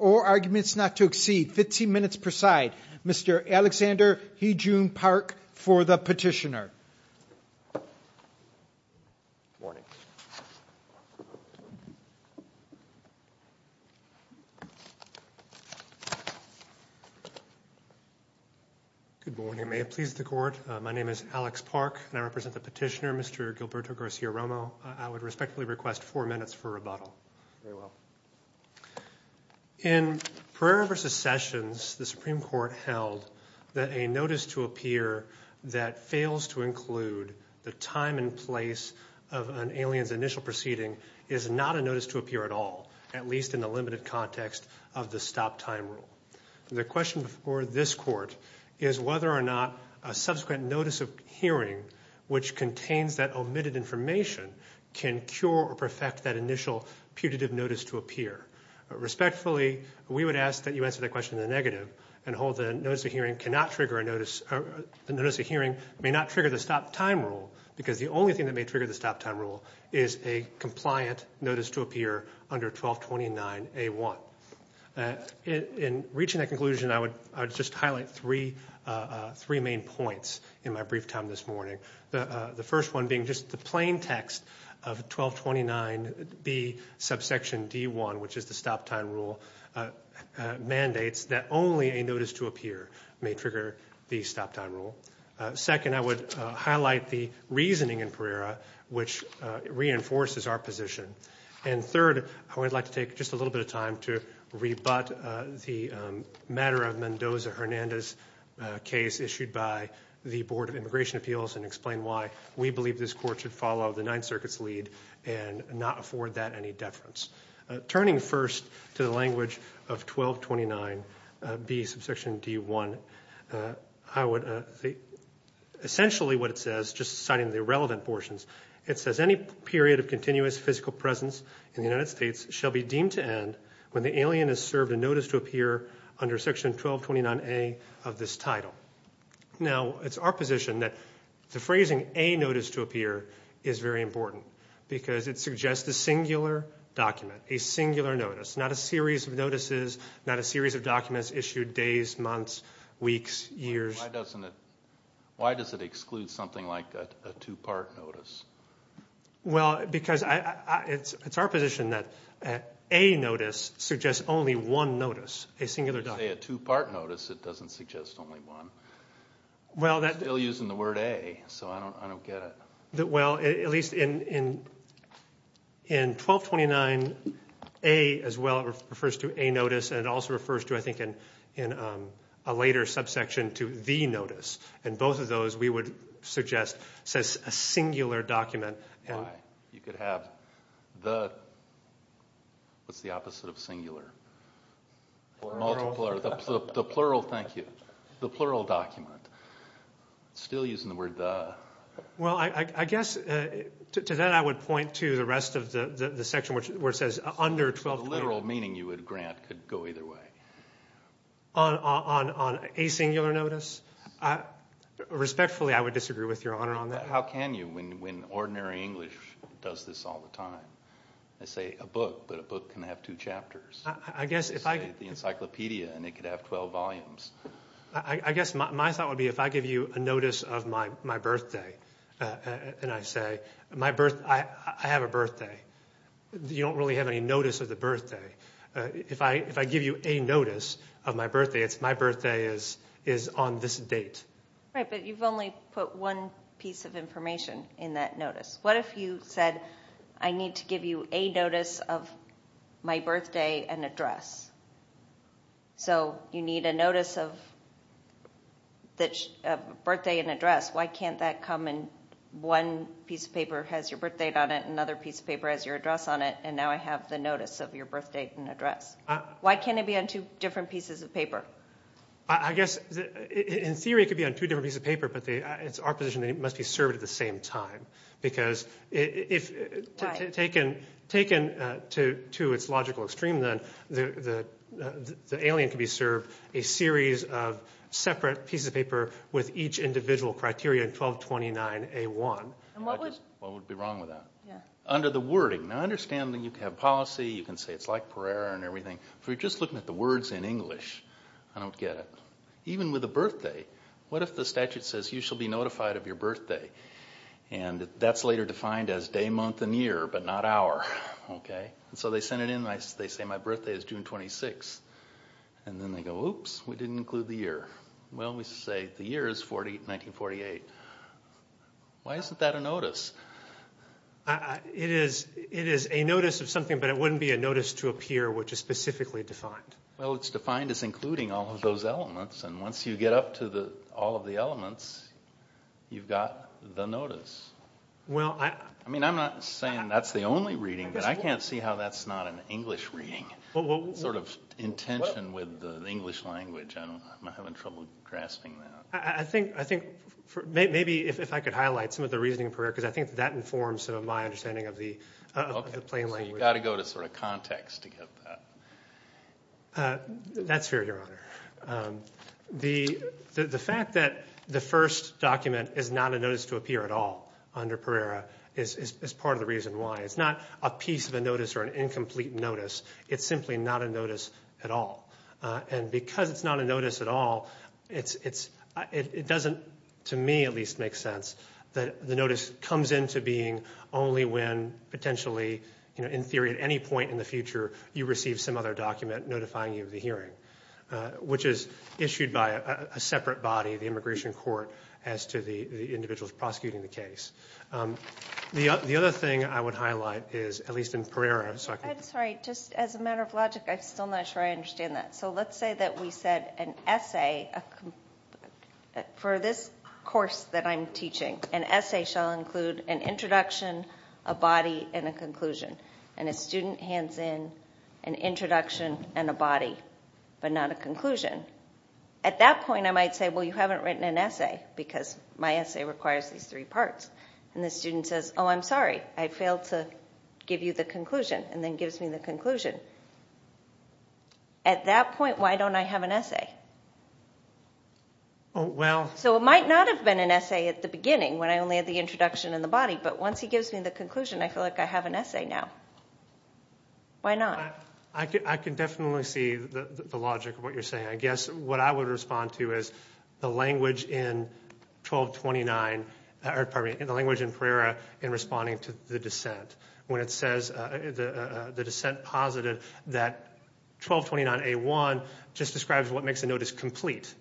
or arguments not to exceed 15 minutes per side. Mr. Alexander Heejoon Park for the petitioner. Good morning. Good morning. May it please the court that the defendant, Mr. Heejoon Park, may it please the court, my name is Alex Park and I represent the petitioner, Mr. Gilberto Garcia-Romo. I would respectfully request four minutes for rebuttal. Very well. In Pereira v. Sessions, the Supreme Court held that a notice to appear that fails to include the time and place of an alien's initial proceeding is not a notice to appear at all, at least in the limited context of the stop time rule. The question for this court is whether or not a subsequent notice of hearing which contains that omitted information can cure or perfect that initial putative notice to appear. Respectfully, we would ask that you answer that question in the negative and hold that a notice of hearing may not trigger the stop time rule because the only thing that may trigger the stop time rule is a compliant notice to appear under 1229A1. In reaching that conclusion, I would just highlight three main points in my brief time this morning. The first one being just the plain text of 1229B subsection D1, which is the stop time rule, mandates that only a notice to appear may trigger the stop time rule. Second, I would highlight the reasoning in Pereira which reinforces our position. And third, I would like to take just a little bit of time to rebut the matter of Mendoza-Hernandez case issued by the Board of Immigration Appeals and explain why we believe this court should follow the Ninth Circuit's lead and not afford that any deference. Turning first to the language of 1229B subsection D1, essentially what it says, just citing the relevant portions, it says any period of continuous physical presence in the United States shall be deemed to end when the alien is served a notice to appear under section 1229A of this title. Now, it's our position that the phrasing a notice to appear is very important because it suggests a singular document, a singular notice, not a series of notices, not a series of documents issued days, months, weeks, years. Why does it exclude something like a two-part notice? Well, because it's our position that a notice suggests only one notice, a singular document. You say a two-part notice, it doesn't suggest only one. You're still using the word a, so I don't get it. Well, at least in 1229A as well, it refers to a notice, and it also refers to, I think, in a later subsection to the notice, and both of those we would suggest says a singular document. You could have the, what's the opposite of singular? The plural, thank you, the plural document. Still using the word the. Well, I guess to that I would point to the rest of the section where it says under 1229. The literal meaning you would grant could go either way. On a singular notice? Respectfully, I would disagree with your honor on that. How can you when ordinary English does this all the time? They say a book, but a book can have two chapters. I guess if I. They say the encyclopedia, and it could have 12 volumes. I guess my thought would be if I give you a notice of my birthday, and I say I have a birthday. You don't really have any notice of the birthday. If I give you a notice of my birthday, it's my birthday is on this date. Right, but you've only put one piece of information in that notice. What if you said I need to give you a notice of my birthday and address? So you need a notice of birthday and address. Why can't that come and one piece of paper has your birth date on it, and another piece of paper has your address on it, and now I have the notice of your birth date and address? Why can't it be on two different pieces of paper? I guess in theory it could be on two different pieces of paper, but it's our position that it must be served at the same time. Why? Because taken to its logical extreme, the alien could be served a series of separate pieces of paper with each individual criteria in 1229A1. What would be wrong with that? Under the wording. Now I understand that you can have policy, you can say it's like Pereira and everything, but if you're just looking at the words in English, I don't get it. Even with a birthday, what if the statute says you shall be notified of your birthday, and that's later defined as day, month, and year, but not hour. So they send it in and they say my birthday is June 26th, and then they go, oops, we didn't include the year. Well, we say the year is 1948. Why isn't that a notice? It is a notice of something, but it wouldn't be a notice to a peer which is specifically defined. Well, it's defined as including all of those elements, and once you get up to all of the elements, you've got the notice. I mean, I'm not saying that's the only reading, but I can't see how that's not an English reading, sort of intention with the English language. I'm having trouble grasping that. I think maybe if I could highlight some of the reasoning of Pereira, because I think that informs my understanding of the plain language. Okay, so you've got to go to sort of context to get that. That's fair, Your Honor. The fact that the first document is not a notice to a peer at all under Pereira is part of the reason why. It's not a piece of a notice or an incomplete notice. It's simply not a notice at all. And because it's not a notice at all, it doesn't, to me at least, make sense that the notice comes into being only when potentially, in theory, at any point in the future you receive some other document notifying you of the hearing, which is issued by a separate body, the immigration court, as to the individuals prosecuting the case. The other thing I would highlight is, at least in Pereira, so I can... I'm sorry, just as a matter of logic, I'm still not sure I understand that. So let's say that we said an essay for this course that I'm teaching, an essay shall include an introduction, a body, and a conclusion. And a student hands in an introduction and a body, but not a conclusion. At that point I might say, well, you haven't written an essay because my essay requires these three parts. And the student says, oh, I'm sorry, I failed to give you the conclusion, and then gives me the conclusion. At that point, why don't I have an essay? So it might not have been an essay at the beginning when I only had the introduction and the body, but once he gives me the conclusion, I feel like I have an essay now. Why not? I can definitely see the logic of what you're saying. I guess what I would respond to is the language in 1229, or pardon me, the language in Pereira in responding to the dissent. When it says, the dissent posited that 1229A1 just describes what makes a notice complete.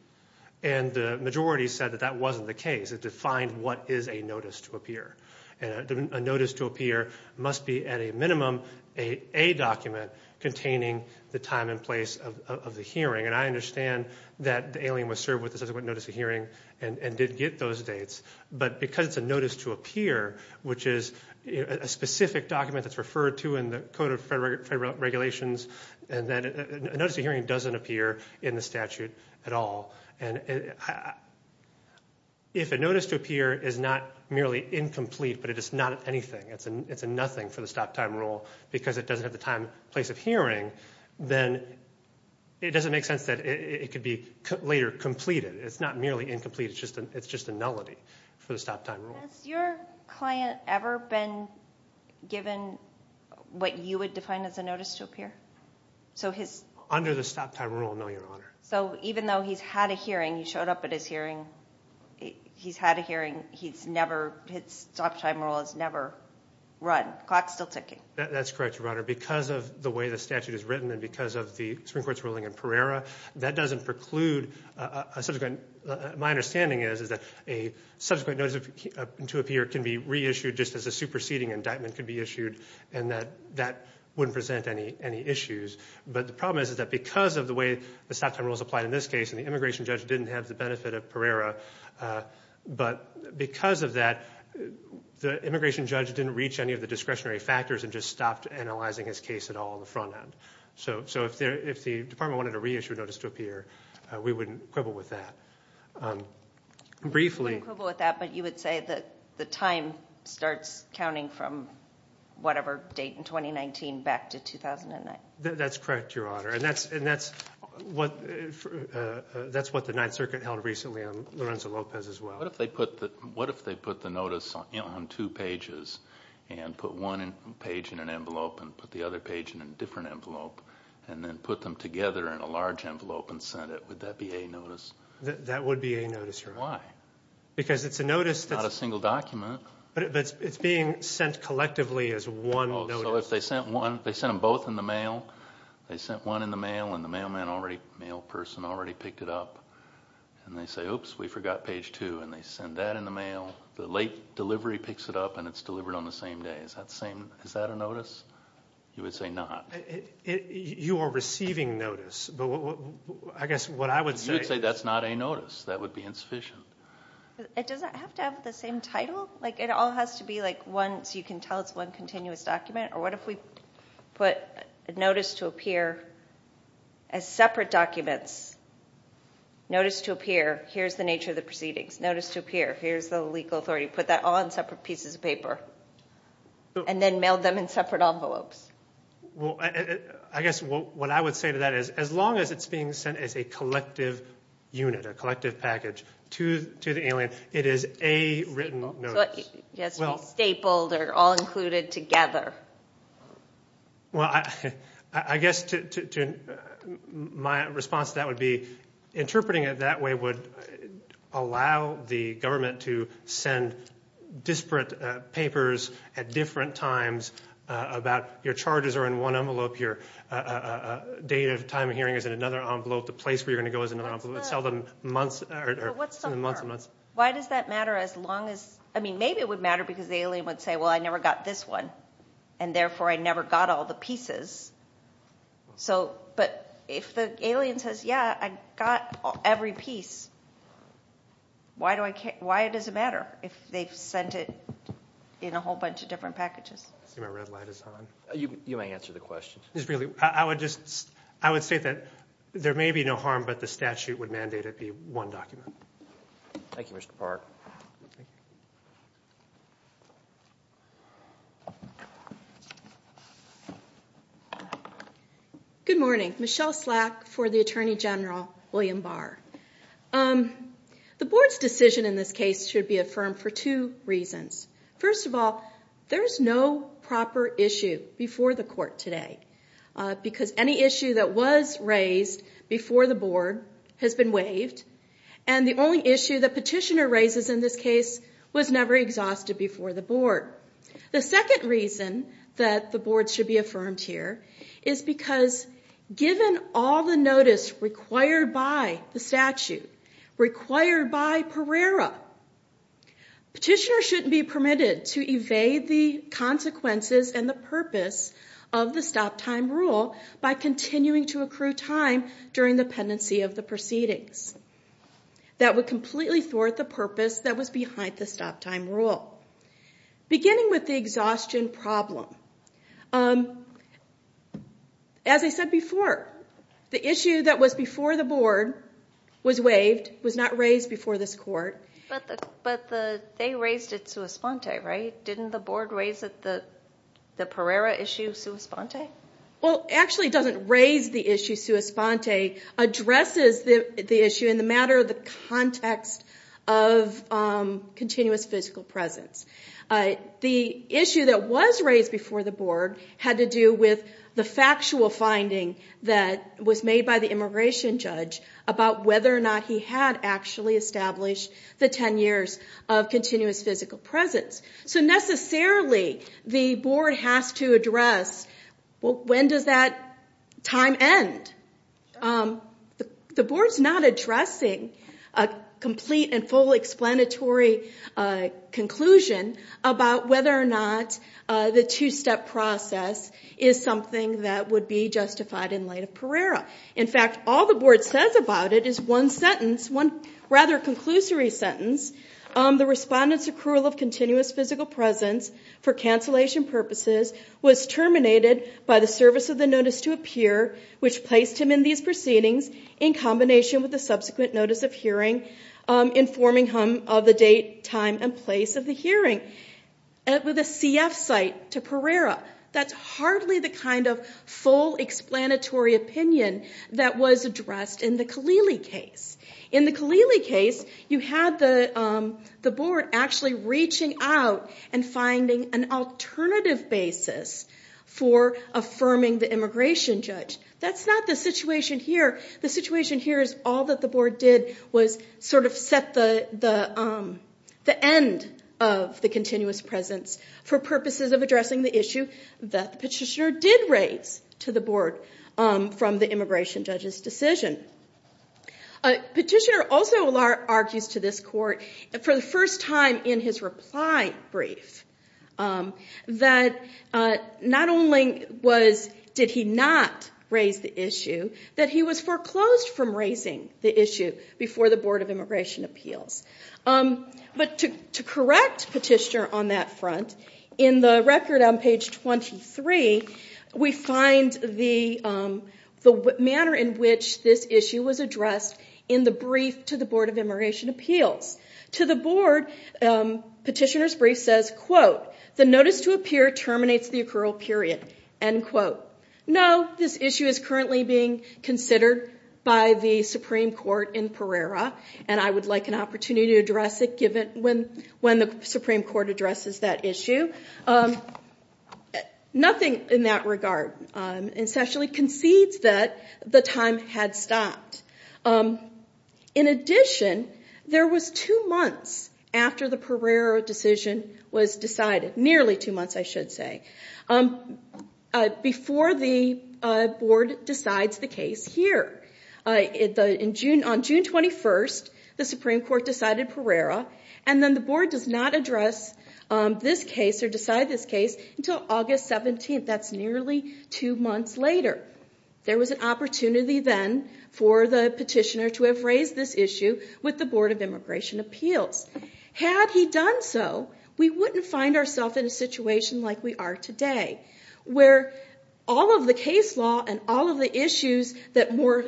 And the majority said that that wasn't the case. It defined what is a notice to appear. A notice to appear must be, at a minimum, a document containing the time and place of the hearing. And I understand that the alien was served with a subsequent notice of hearing and did get those dates. But because it's a notice to appear, which is a specific document that's referred to in the Code of Federal Regulations, a notice of hearing doesn't appear in the statute at all. If a notice to appear is not merely incomplete, but it is not anything, it's a nothing for the stop-time rule, because it doesn't have the time and place of hearing, then it doesn't make sense that it could be later completed. It's not merely incomplete, it's just a nullity for the stop-time rule. Has your client ever been given what you would define as a notice to appear? Under the stop-time rule, no, Your Honor. So even though he's had a hearing, he showed up at his hearing, he's had a hearing, his stop-time rule has never run. The clock's still ticking. That's correct, Your Honor. Because of the way the statute is written and because of the Supreme Court's ruling in Pereira, that doesn't preclude a subsequent. My understanding is that a subsequent notice to appear can be reissued just as a superseding indictment can be issued, and that wouldn't present any issues. But the problem is that because of the way the stop-time rules apply in this case, and the immigration judge didn't have the benefit of Pereira, but because of that, the immigration judge didn't reach any of the discretionary factors and just stopped analyzing his case at all on the front end. So if the Department wanted a reissued notice to appear, we wouldn't quibble with that. We wouldn't quibble with that, but you would say that the time starts counting from whatever date in 2019 back to 2009. That's correct, Your Honor, and that's what the Ninth Circuit held recently on Lorenzo Lopez as well. What if they put the notice on two pages and put one page in an envelope and put the other page in a different envelope and then put them together in a large envelope and sent it? Would that be a notice? That would be a notice, Your Honor. Why? Because it's a notice. It's not a single document. But it's being sent collectively as one notice. So if they sent them both in the mail, they sent one in the mail and the mail person already picked it up, and they say, oops, we forgot page 2, and they send that in the mail, the late delivery picks it up and it's delivered on the same day. Is that a notice? You would say not. You are receiving notice, but I guess what I would say is that's not a notice. That would be insufficient. Does it have to have the same title? Like it all has to be like one, so you can tell it's one continuous document? Or what if we put notice to appear as separate documents? Notice to appear, here's the nature of the proceedings. Notice to appear, here's the legal authority. Put that all in separate pieces of paper and then mail them in separate envelopes. Well, I guess what I would say to that is as long as it's being sent as a collective unit, a collective package to the alien, it is a written notice. It has to be stapled or all included together. Well, I guess my response to that would be interpreting it that way would allow the government to send disparate papers at different times about your charges are in one envelope, your date of time of hearing is in another envelope, the place where you're going to go is in another envelope. But what's the harm? Why does that matter as long as... I mean, maybe it would matter because the alien would say, well, I never got this one, and therefore I never got all the pieces. But if the alien says, yeah, I got every piece, why does it matter if they've sent it in a whole bunch of different packages? I see my red light is on. You may answer the question. I would say that there may be no harm, but the statute would mandate it be one document. Thank you, Mr. Park. Good morning. Michelle Slack for the Attorney General, William Barr. The board's decision in this case should be affirmed for two reasons. First of all, there is no proper issue before the court today because any issue that was raised before the board has been waived, and the only issue the petitioner raises in this case was never exhausted before the board. The second reason that the board should be affirmed here is because given all the notice required by the statute, required by Pereira, petitioners shouldn't be permitted to evade the consequences and the purpose of the stop-time rule by continuing to accrue time during the pendency of the proceedings. That would completely thwart the purpose that was behind the stop-time rule. Beginning with the exhaustion problem, as I said before, the issue that was before the board was waived, was not raised before this court. But they raised it sua sponte, right? Didn't the board raise the Pereira issue sua sponte? Actually, it doesn't raise the issue sua sponte. It addresses the issue in the matter of the context of continuous physical presence. The issue that was raised before the board had to do with the factual finding that was made by the immigration judge about whether or not he had actually established the 10 years of continuous physical presence. So necessarily, the board has to address, well, when does that time end? The board's not addressing a complete and full explanatory conclusion about whether or not the two-step process is something that would be justified in light of Pereira. In fact, all the board says about it is one sentence, one rather conclusory sentence, the respondent's accrual of continuous physical presence for cancellation purposes was terminated by the service of the notice to appear, which placed him in these proceedings in combination with the subsequent notice of hearing informing him of the date, time, and place of the hearing. With a CF site to Pereira, that's hardly the kind of full explanatory opinion that was addressed in the Kalili case. In the Kalili case, you had the board actually reaching out and finding an alternative basis for affirming the immigration judge. That's not the situation here. The situation here is all that the board did was sort of set the end of the continuous presence for purposes of addressing the issue that the petitioner did raise to the board from the immigration judge's decision. Petitioner also argues to this court, for the first time in his reply brief, that not only did he not raise the issue, that he was foreclosed from raising the issue before the Board of Immigration Appeals. But to correct Petitioner on that front, in the record on page 23, we find the manner in which this issue was addressed in the brief to the Board of Immigration Appeals. To the board, Petitioner's brief says, quote, the notice to appear terminates the accrual period. End quote. No, this issue is currently being considered by the Supreme Court in Pereira, and I would like an opportunity to address it when the Supreme Court addresses that issue. Nothing in that regard. It essentially concedes that the time had stopped. In addition, there was two months after the Pereira decision was decided, nearly two months, I should say, before the board decides the case here. On June 21, the Supreme Court decided Pereira, and then the board does not address this case or decide this case until August 17. That's nearly two months later. There was an opportunity then for the Petitioner to have raised this issue with the Board of Immigration Appeals. Had he done so, we wouldn't find ourselves in a situation like we are today, where all of the case law and all of the issues that more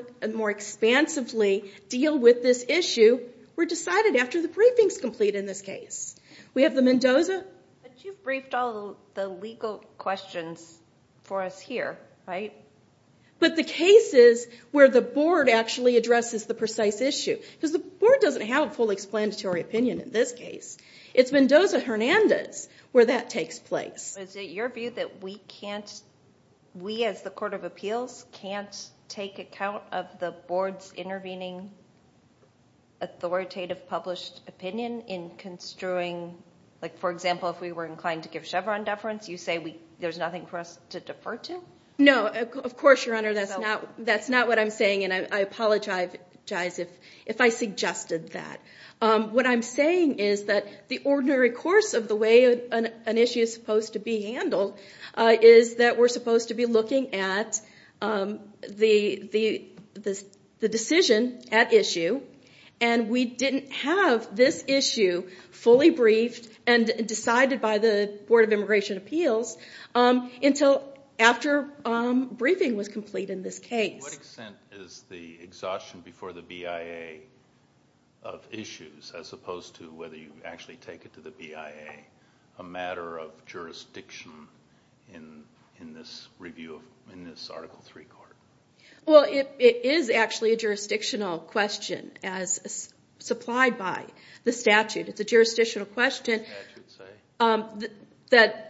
expansively deal with this issue were decided after the briefings complete in this case. We have the Mendoza. But you briefed all the legal questions for us here, right? But the cases where the board actually addresses the precise issue, because the board doesn't have a full explanatory opinion in this case. It's Mendoza-Hernandez where that takes place. Is it your view that we can't, we as the Court of Appeals, can't take account of the board's intervening authoritative published opinion in construing, like for example, if we were inclined to give Chevron deference, you say there's nothing for us to defer to? No, of course, Your Honor, that's not what I'm saying, and I apologize if I suggested that. What I'm saying is that the ordinary course of the way an issue is supposed to be handled And we didn't have this issue fully briefed and decided by the Board of Immigration Appeals until after briefing was complete in this case. What extent is the exhaustion before the BIA of issues, as opposed to whether you actually take it to the BIA, a matter of jurisdiction in this review, in this Article III court? Well, it is actually a jurisdictional question as supplied by the statute. It's a jurisdictional question that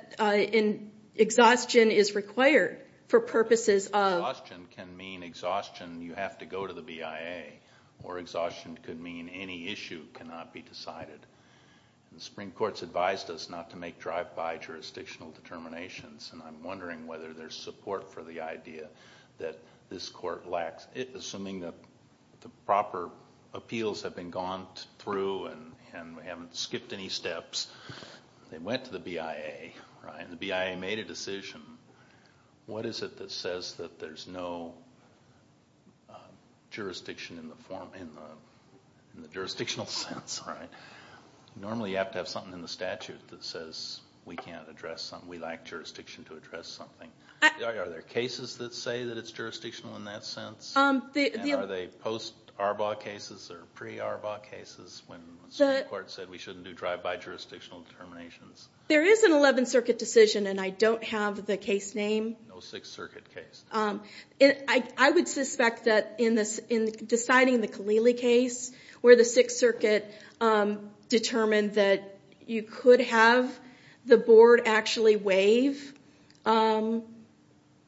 exhaustion is required for purposes of... Exhaustion can mean exhaustion, you have to go to the BIA, or exhaustion could mean any issue cannot be decided. The Supreme Court's advised us not to make drive-by jurisdictional determinations, and I'm wondering whether there's support for the idea that this court lacks... Assuming that the proper appeals have been gone through and we haven't skipped any steps, they went to the BIA, right, and the BIA made a decision, what is it that says that there's no jurisdiction in the jurisdictional sense, right? Normally you have to have something in the statute that says we can't address something, we lack jurisdiction to address something. Are there cases that say that it's jurisdictional in that sense? Are they post-ARBAW cases or pre-ARBAW cases when the Supreme Court said we shouldn't do drive-by jurisdictional determinations? There is an 11th Circuit decision, and I don't have the case name. No Sixth Circuit case. I would suspect that in deciding the Kalili case, where the Sixth Circuit determined that you could have the board actually waive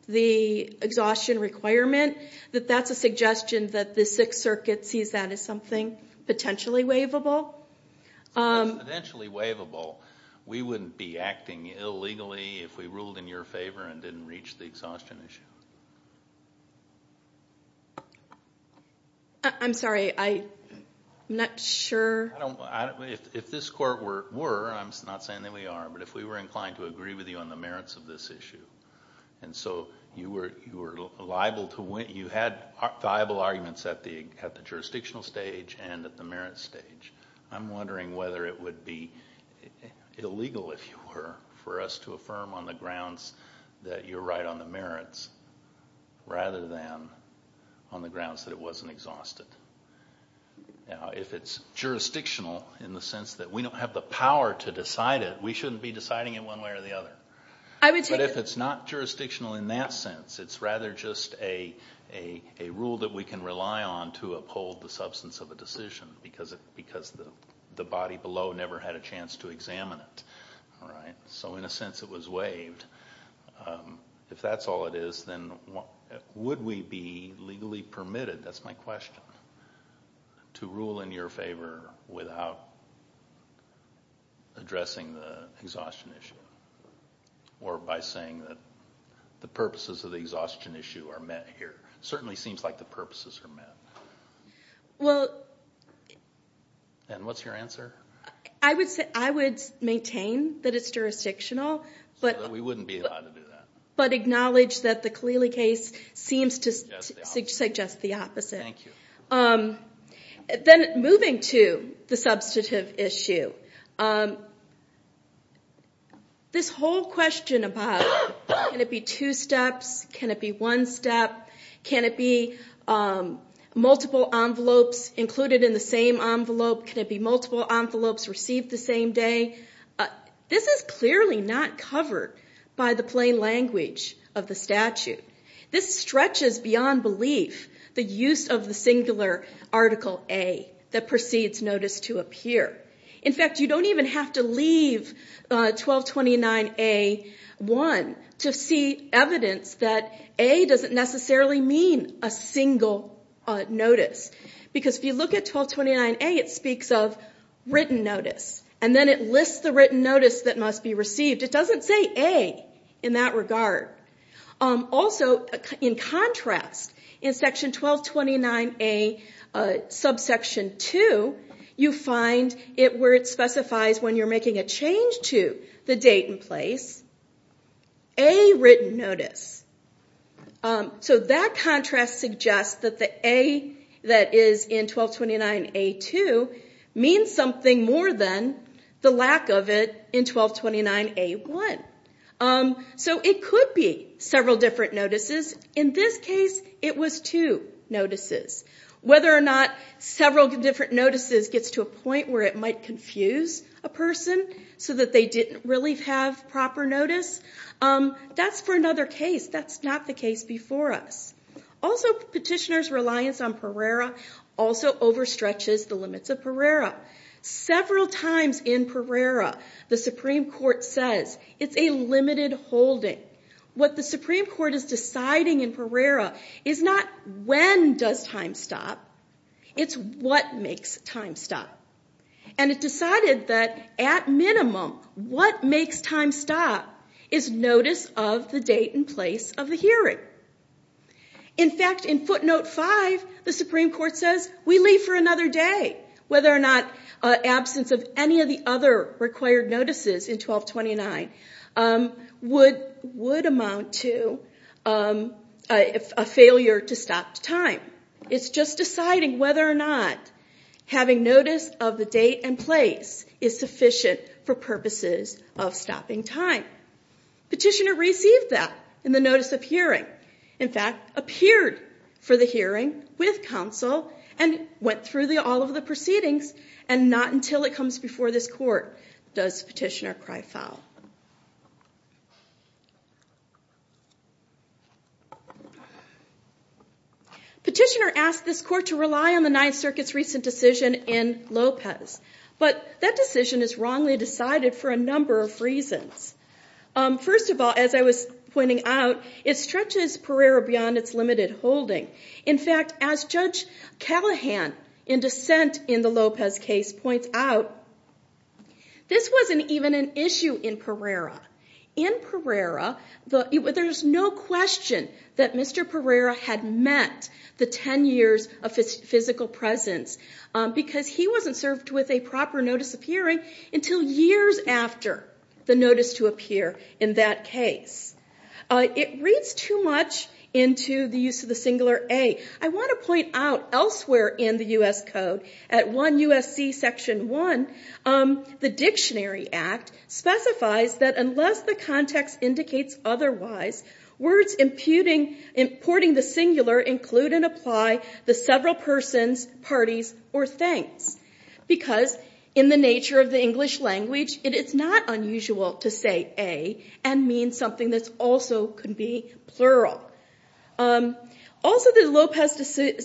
the exhaustion requirement, that that's a suggestion that the Sixth Circuit sees that as something potentially waivable. If it was potentially waivable, we wouldn't be acting illegally if we ruled in your favor and didn't reach the exhaustion issue. I'm sorry, I'm not sure... If this Court were, and I'm not saying that we are, but if we were inclined to agree with you on the merits of this issue, and so you had viable arguments at the jurisdictional stage and at the merits stage, I'm wondering whether it would be illegal, if you were, for us to affirm on the grounds that you're right on the merits rather than on the grounds that it wasn't exhausted. If it's jurisdictional, in the sense that we don't have the power to decide it, we shouldn't be deciding it one way or the other. But if it's not jurisdictional in that sense, it's rather just a rule that we can rely on to uphold the substance of a decision, because the body below never had a chance to examine it. So in a sense, it was waived. If that's all it is, then would we be legally permitted? That's my question. To rule in your favor without addressing the exhaustion issue, or by saying that the purposes of the exhaustion issue are met here? It certainly seems like the purposes are met. Well... And what's your answer? I would maintain that it's jurisdictional, but... We wouldn't be allowed to do that. But acknowledge that the Khalili case seems to suggest the opposite. Thank you. Then moving to the substantive issue, this whole question about can it be two steps, can it be one step, can it be multiple envelopes included in the same envelope, can it be multiple envelopes received the same day, this is clearly not covered by the plain language of the statute. This stretches beyond belief, the use of the singular article A that precedes notice to appear. In fact, you don't even have to leave 1229A-1 to see evidence that A doesn't necessarily mean a single notice, because if you look at 1229A, it speaks of written notice, and then it lists the written notice that must be received. It doesn't say A in that regard. Also, in contrast, in section 1229A, subsection 2, you find where it specifies when you're making a change to the date and place, A written notice. So that contrast suggests that the A that is in 1229A-2 means something more than the lack of it in 1229A-1. So it could be several different notices. In this case, it was two notices. Whether or not several different notices gets to a point where it might confuse a person so that they didn't really have proper notice, that's for another case. That's not the case before us. Also, petitioner's reliance on Pereira also overstretches the limits of Pereira. Several times in Pereira, the Supreme Court says it's a limited holding. What the Supreme Court is deciding in Pereira is not when does time stop, it's what makes time stop. And it decided that, at minimum, what makes time stop is notice of the date and place of the hearing. In fact, in footnote 5, the Supreme Court says we leave for another day. Whether or not absence of any of the other required notices in 1229 would amount to a failure to stop time. It's just deciding whether or not having notice of the date and place is sufficient for purposes of stopping time. Petitioner received that in the notice of hearing. In fact, appeared for the hearing with counsel and went through all of the proceedings, and not until it comes before this court does petitioner cry foul. Petitioner asked this court to rely on the Ninth Circuit's recent decision in Lopez. But that decision is wrongly decided for a number of reasons. First of all, as I was pointing out, it stretches Pereira beyond its limited holding. In fact, as Judge Callahan, in dissent in the Lopez case, points out, this wasn't even an issue in Pereira. In Pereira, there's no question that Mr. Pereira had met the 10 years of physical presence because he wasn't served with a proper notice of hearing until years after the notice to appear in that case. It reads too much into the use of the singular A. I want to point out, elsewhere in the U.S. Code, at 1 U.S.C. Section 1, the Dictionary Act specifies that unless the context indicates otherwise, words importing the singular include and apply the several persons, parties, or things, because in the nature of the English language, it is not unusual to say A and mean something that also could be plural. Also, the Lopez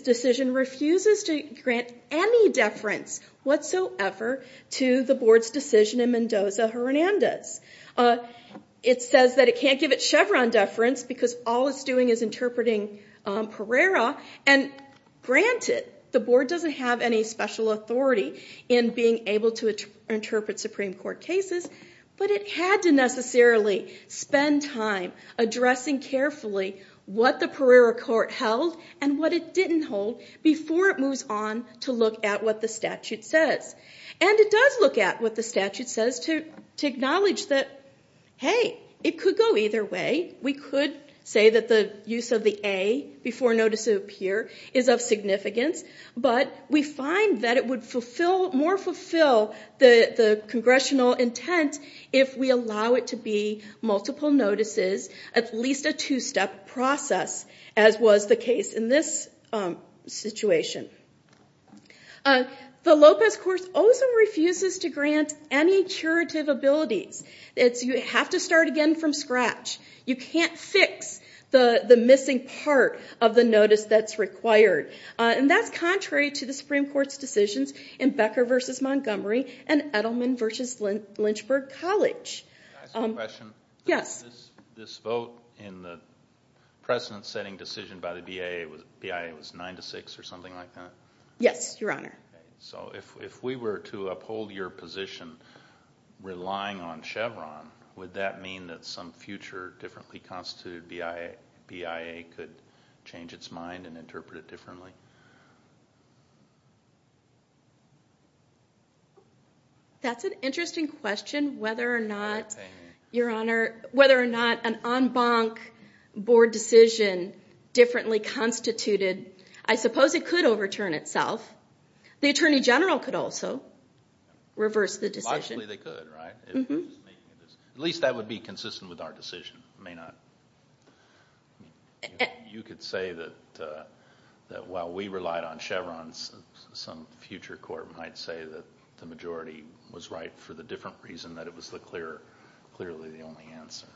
decision refuses to grant any deference whatsoever to the board's decision in Mendoza-Hernandez. It says that it can't give it Chevron deference because all it's doing is interpreting Pereira. And granted, the board doesn't have any special authority in being able to interpret Supreme Court cases, but it had to necessarily spend time addressing carefully what the Pereira court held and what it didn't hold before it moves on to look at what the statute says. And it does look at what the statute says to acknowledge that, hey, it could go either way. We could say that the use of the A before notices appear is of significance, but we find that it would more fulfill the congressional intent if we allow it to be multiple notices, at least a two-step process, as was the case in this situation. The Lopez Court also refuses to grant any curative abilities. You have to start again from scratch. You can't fix the missing part of the notice that's required. And that's contrary to the Supreme Court's decisions in Becker v. Montgomery and Edelman v. Lynchburg College. Can I ask a question? Yes. This vote in the precedent-setting decision by the BIA was 9-6 or something like that? Yes, Your Honor. So if we were to uphold your position relying on Chevron, would that mean that some future differently constituted BIA could change its mind and interpret it differently? That's an interesting question, whether or not, Your Honor, whether or not an en banc board decision differently constituted, I suppose it could overturn itself. The Attorney General could also reverse the decision. Logically, they could, right? At least that would be consistent with our decision. It may not. You could say that while we relied on Chevron, some future court might say that the majority was right for the different reason, that it was clearly the only answer.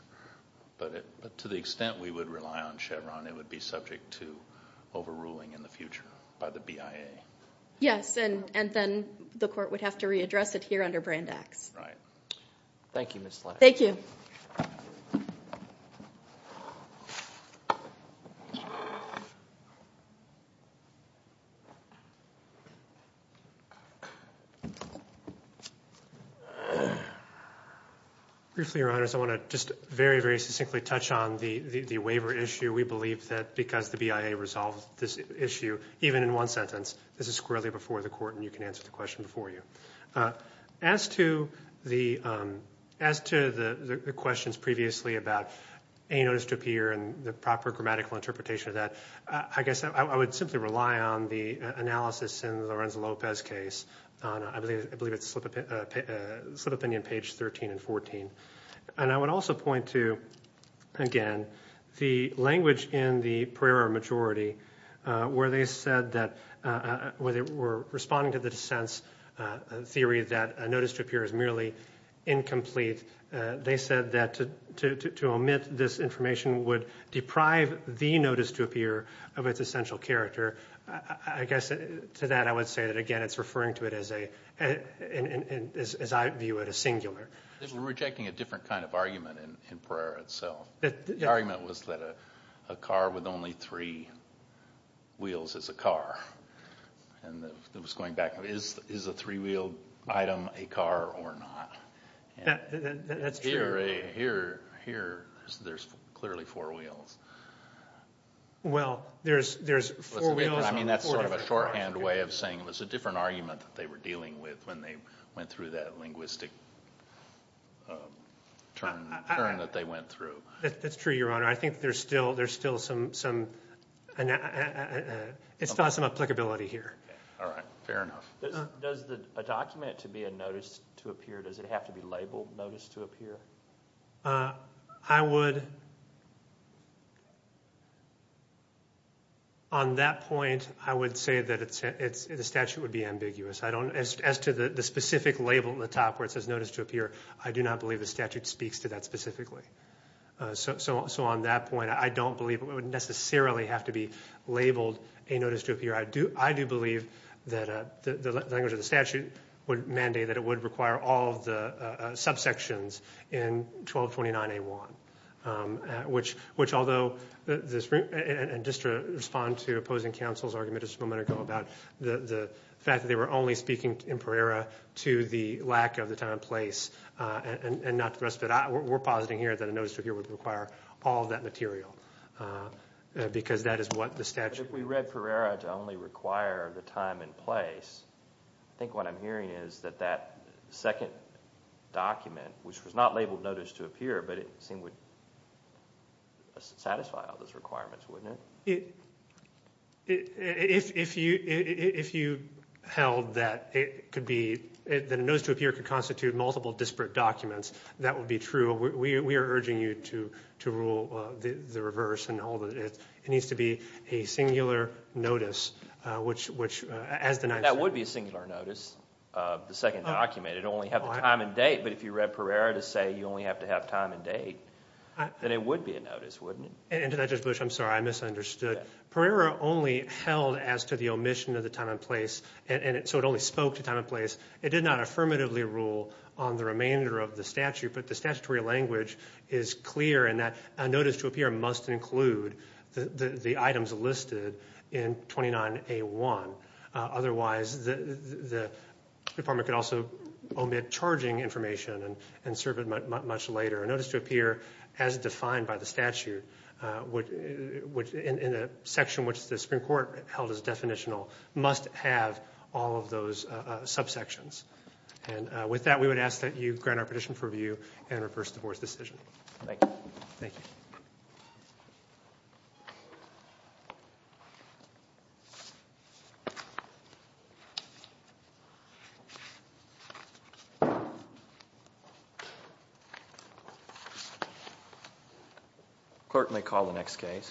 But to the extent we would rely on Chevron, it would be subject to overruling in the future by the BIA. Yes, and then the court would have to readdress it here under Brandax. Right. Thank you, Ms. Lange. Thank you. Briefly, Your Honors, I want to just very, very succinctly touch on the waiver issue. We believe that because the BIA resolved this issue, even in one sentence, this is squarely before the court and you can answer the question before you. As to the questions previously about a notice to appear and the proper grammatical interpretation of that, I guess I would simply rely on the analysis in the Lorenzo Lopez case. I believe it's slip of the pen on page 13 and 14. And I would also point to, again, the language in the Pereira majority where they said that, where they were responding to the dissent's theory that a notice to appear is merely incomplete. They said that to omit this information would deprive the notice to appear of its essential character. I guess to that I would say that, again, it's referring to it as a, as I view it, a singular. They were rejecting a different kind of argument in Pereira itself. The argument was that a car with only three wheels is a car. And it was going back, is a three-wheeled item a car or not? That's true. Here, there's clearly four wheels. Well, there's four wheels on four different cars. I mean, that's sort of a shorthand way of saying it was a different argument that they were dealing with when they went through that linguistic turn that they went through. That's true, Your Honor. I think there's still some applicability here. All right. Fair enough. Does a document to be a notice to appear, does it have to be labeled notice to appear? I would, on that point, I would say that the statute would be ambiguous. As to the specific label in the top where it says notice to appear, I do not believe the statute speaks to that specifically. So on that point, I don't believe it would necessarily have to be labeled a notice to appear. I do believe that the language of the statute would mandate that it would require all of the subsections in 1229A1, which although this room and just to respond to opposing counsel's argument just a moment ago about the fact that they were only speaking in Pereira to the lack of the time and place and not to the rest of it, we're positing here that a notice to appear would require all of that material because that is what the statute. If we read Pereira to only require the time and place, I think what I'm hearing is that that second document, which was not labeled notice to appear, but it seemed would satisfy all those requirements, wouldn't it? If you held that it could be, that a notice to appear could constitute multiple disparate documents, that would be true. We are urging you to rule the reverse and all of it. It needs to be a singular notice, which as denied. That would be a singular notice, the second document. It would only have the time and date, but if you read Pereira to say you only have to have time and date, then it would be a notice, wouldn't it? And to that, Judge Bush, I'm sorry, I misunderstood. Pereira only held as to the omission of the time and place, so it only spoke to time and place. It did not affirmatively rule on the remainder of the statute, but the statutory language is clear in that a notice to appear must include the items listed in 29A1. Otherwise, the department could also omit charging information and serve it much later. A notice to appear, as defined by the statute, in a section which the Supreme Court held as definitional, must have all of those subsections. And with that, we would ask that you grant our petition for review and reverse divorce decision. Thank you. Thank you. The clerk may call the next case.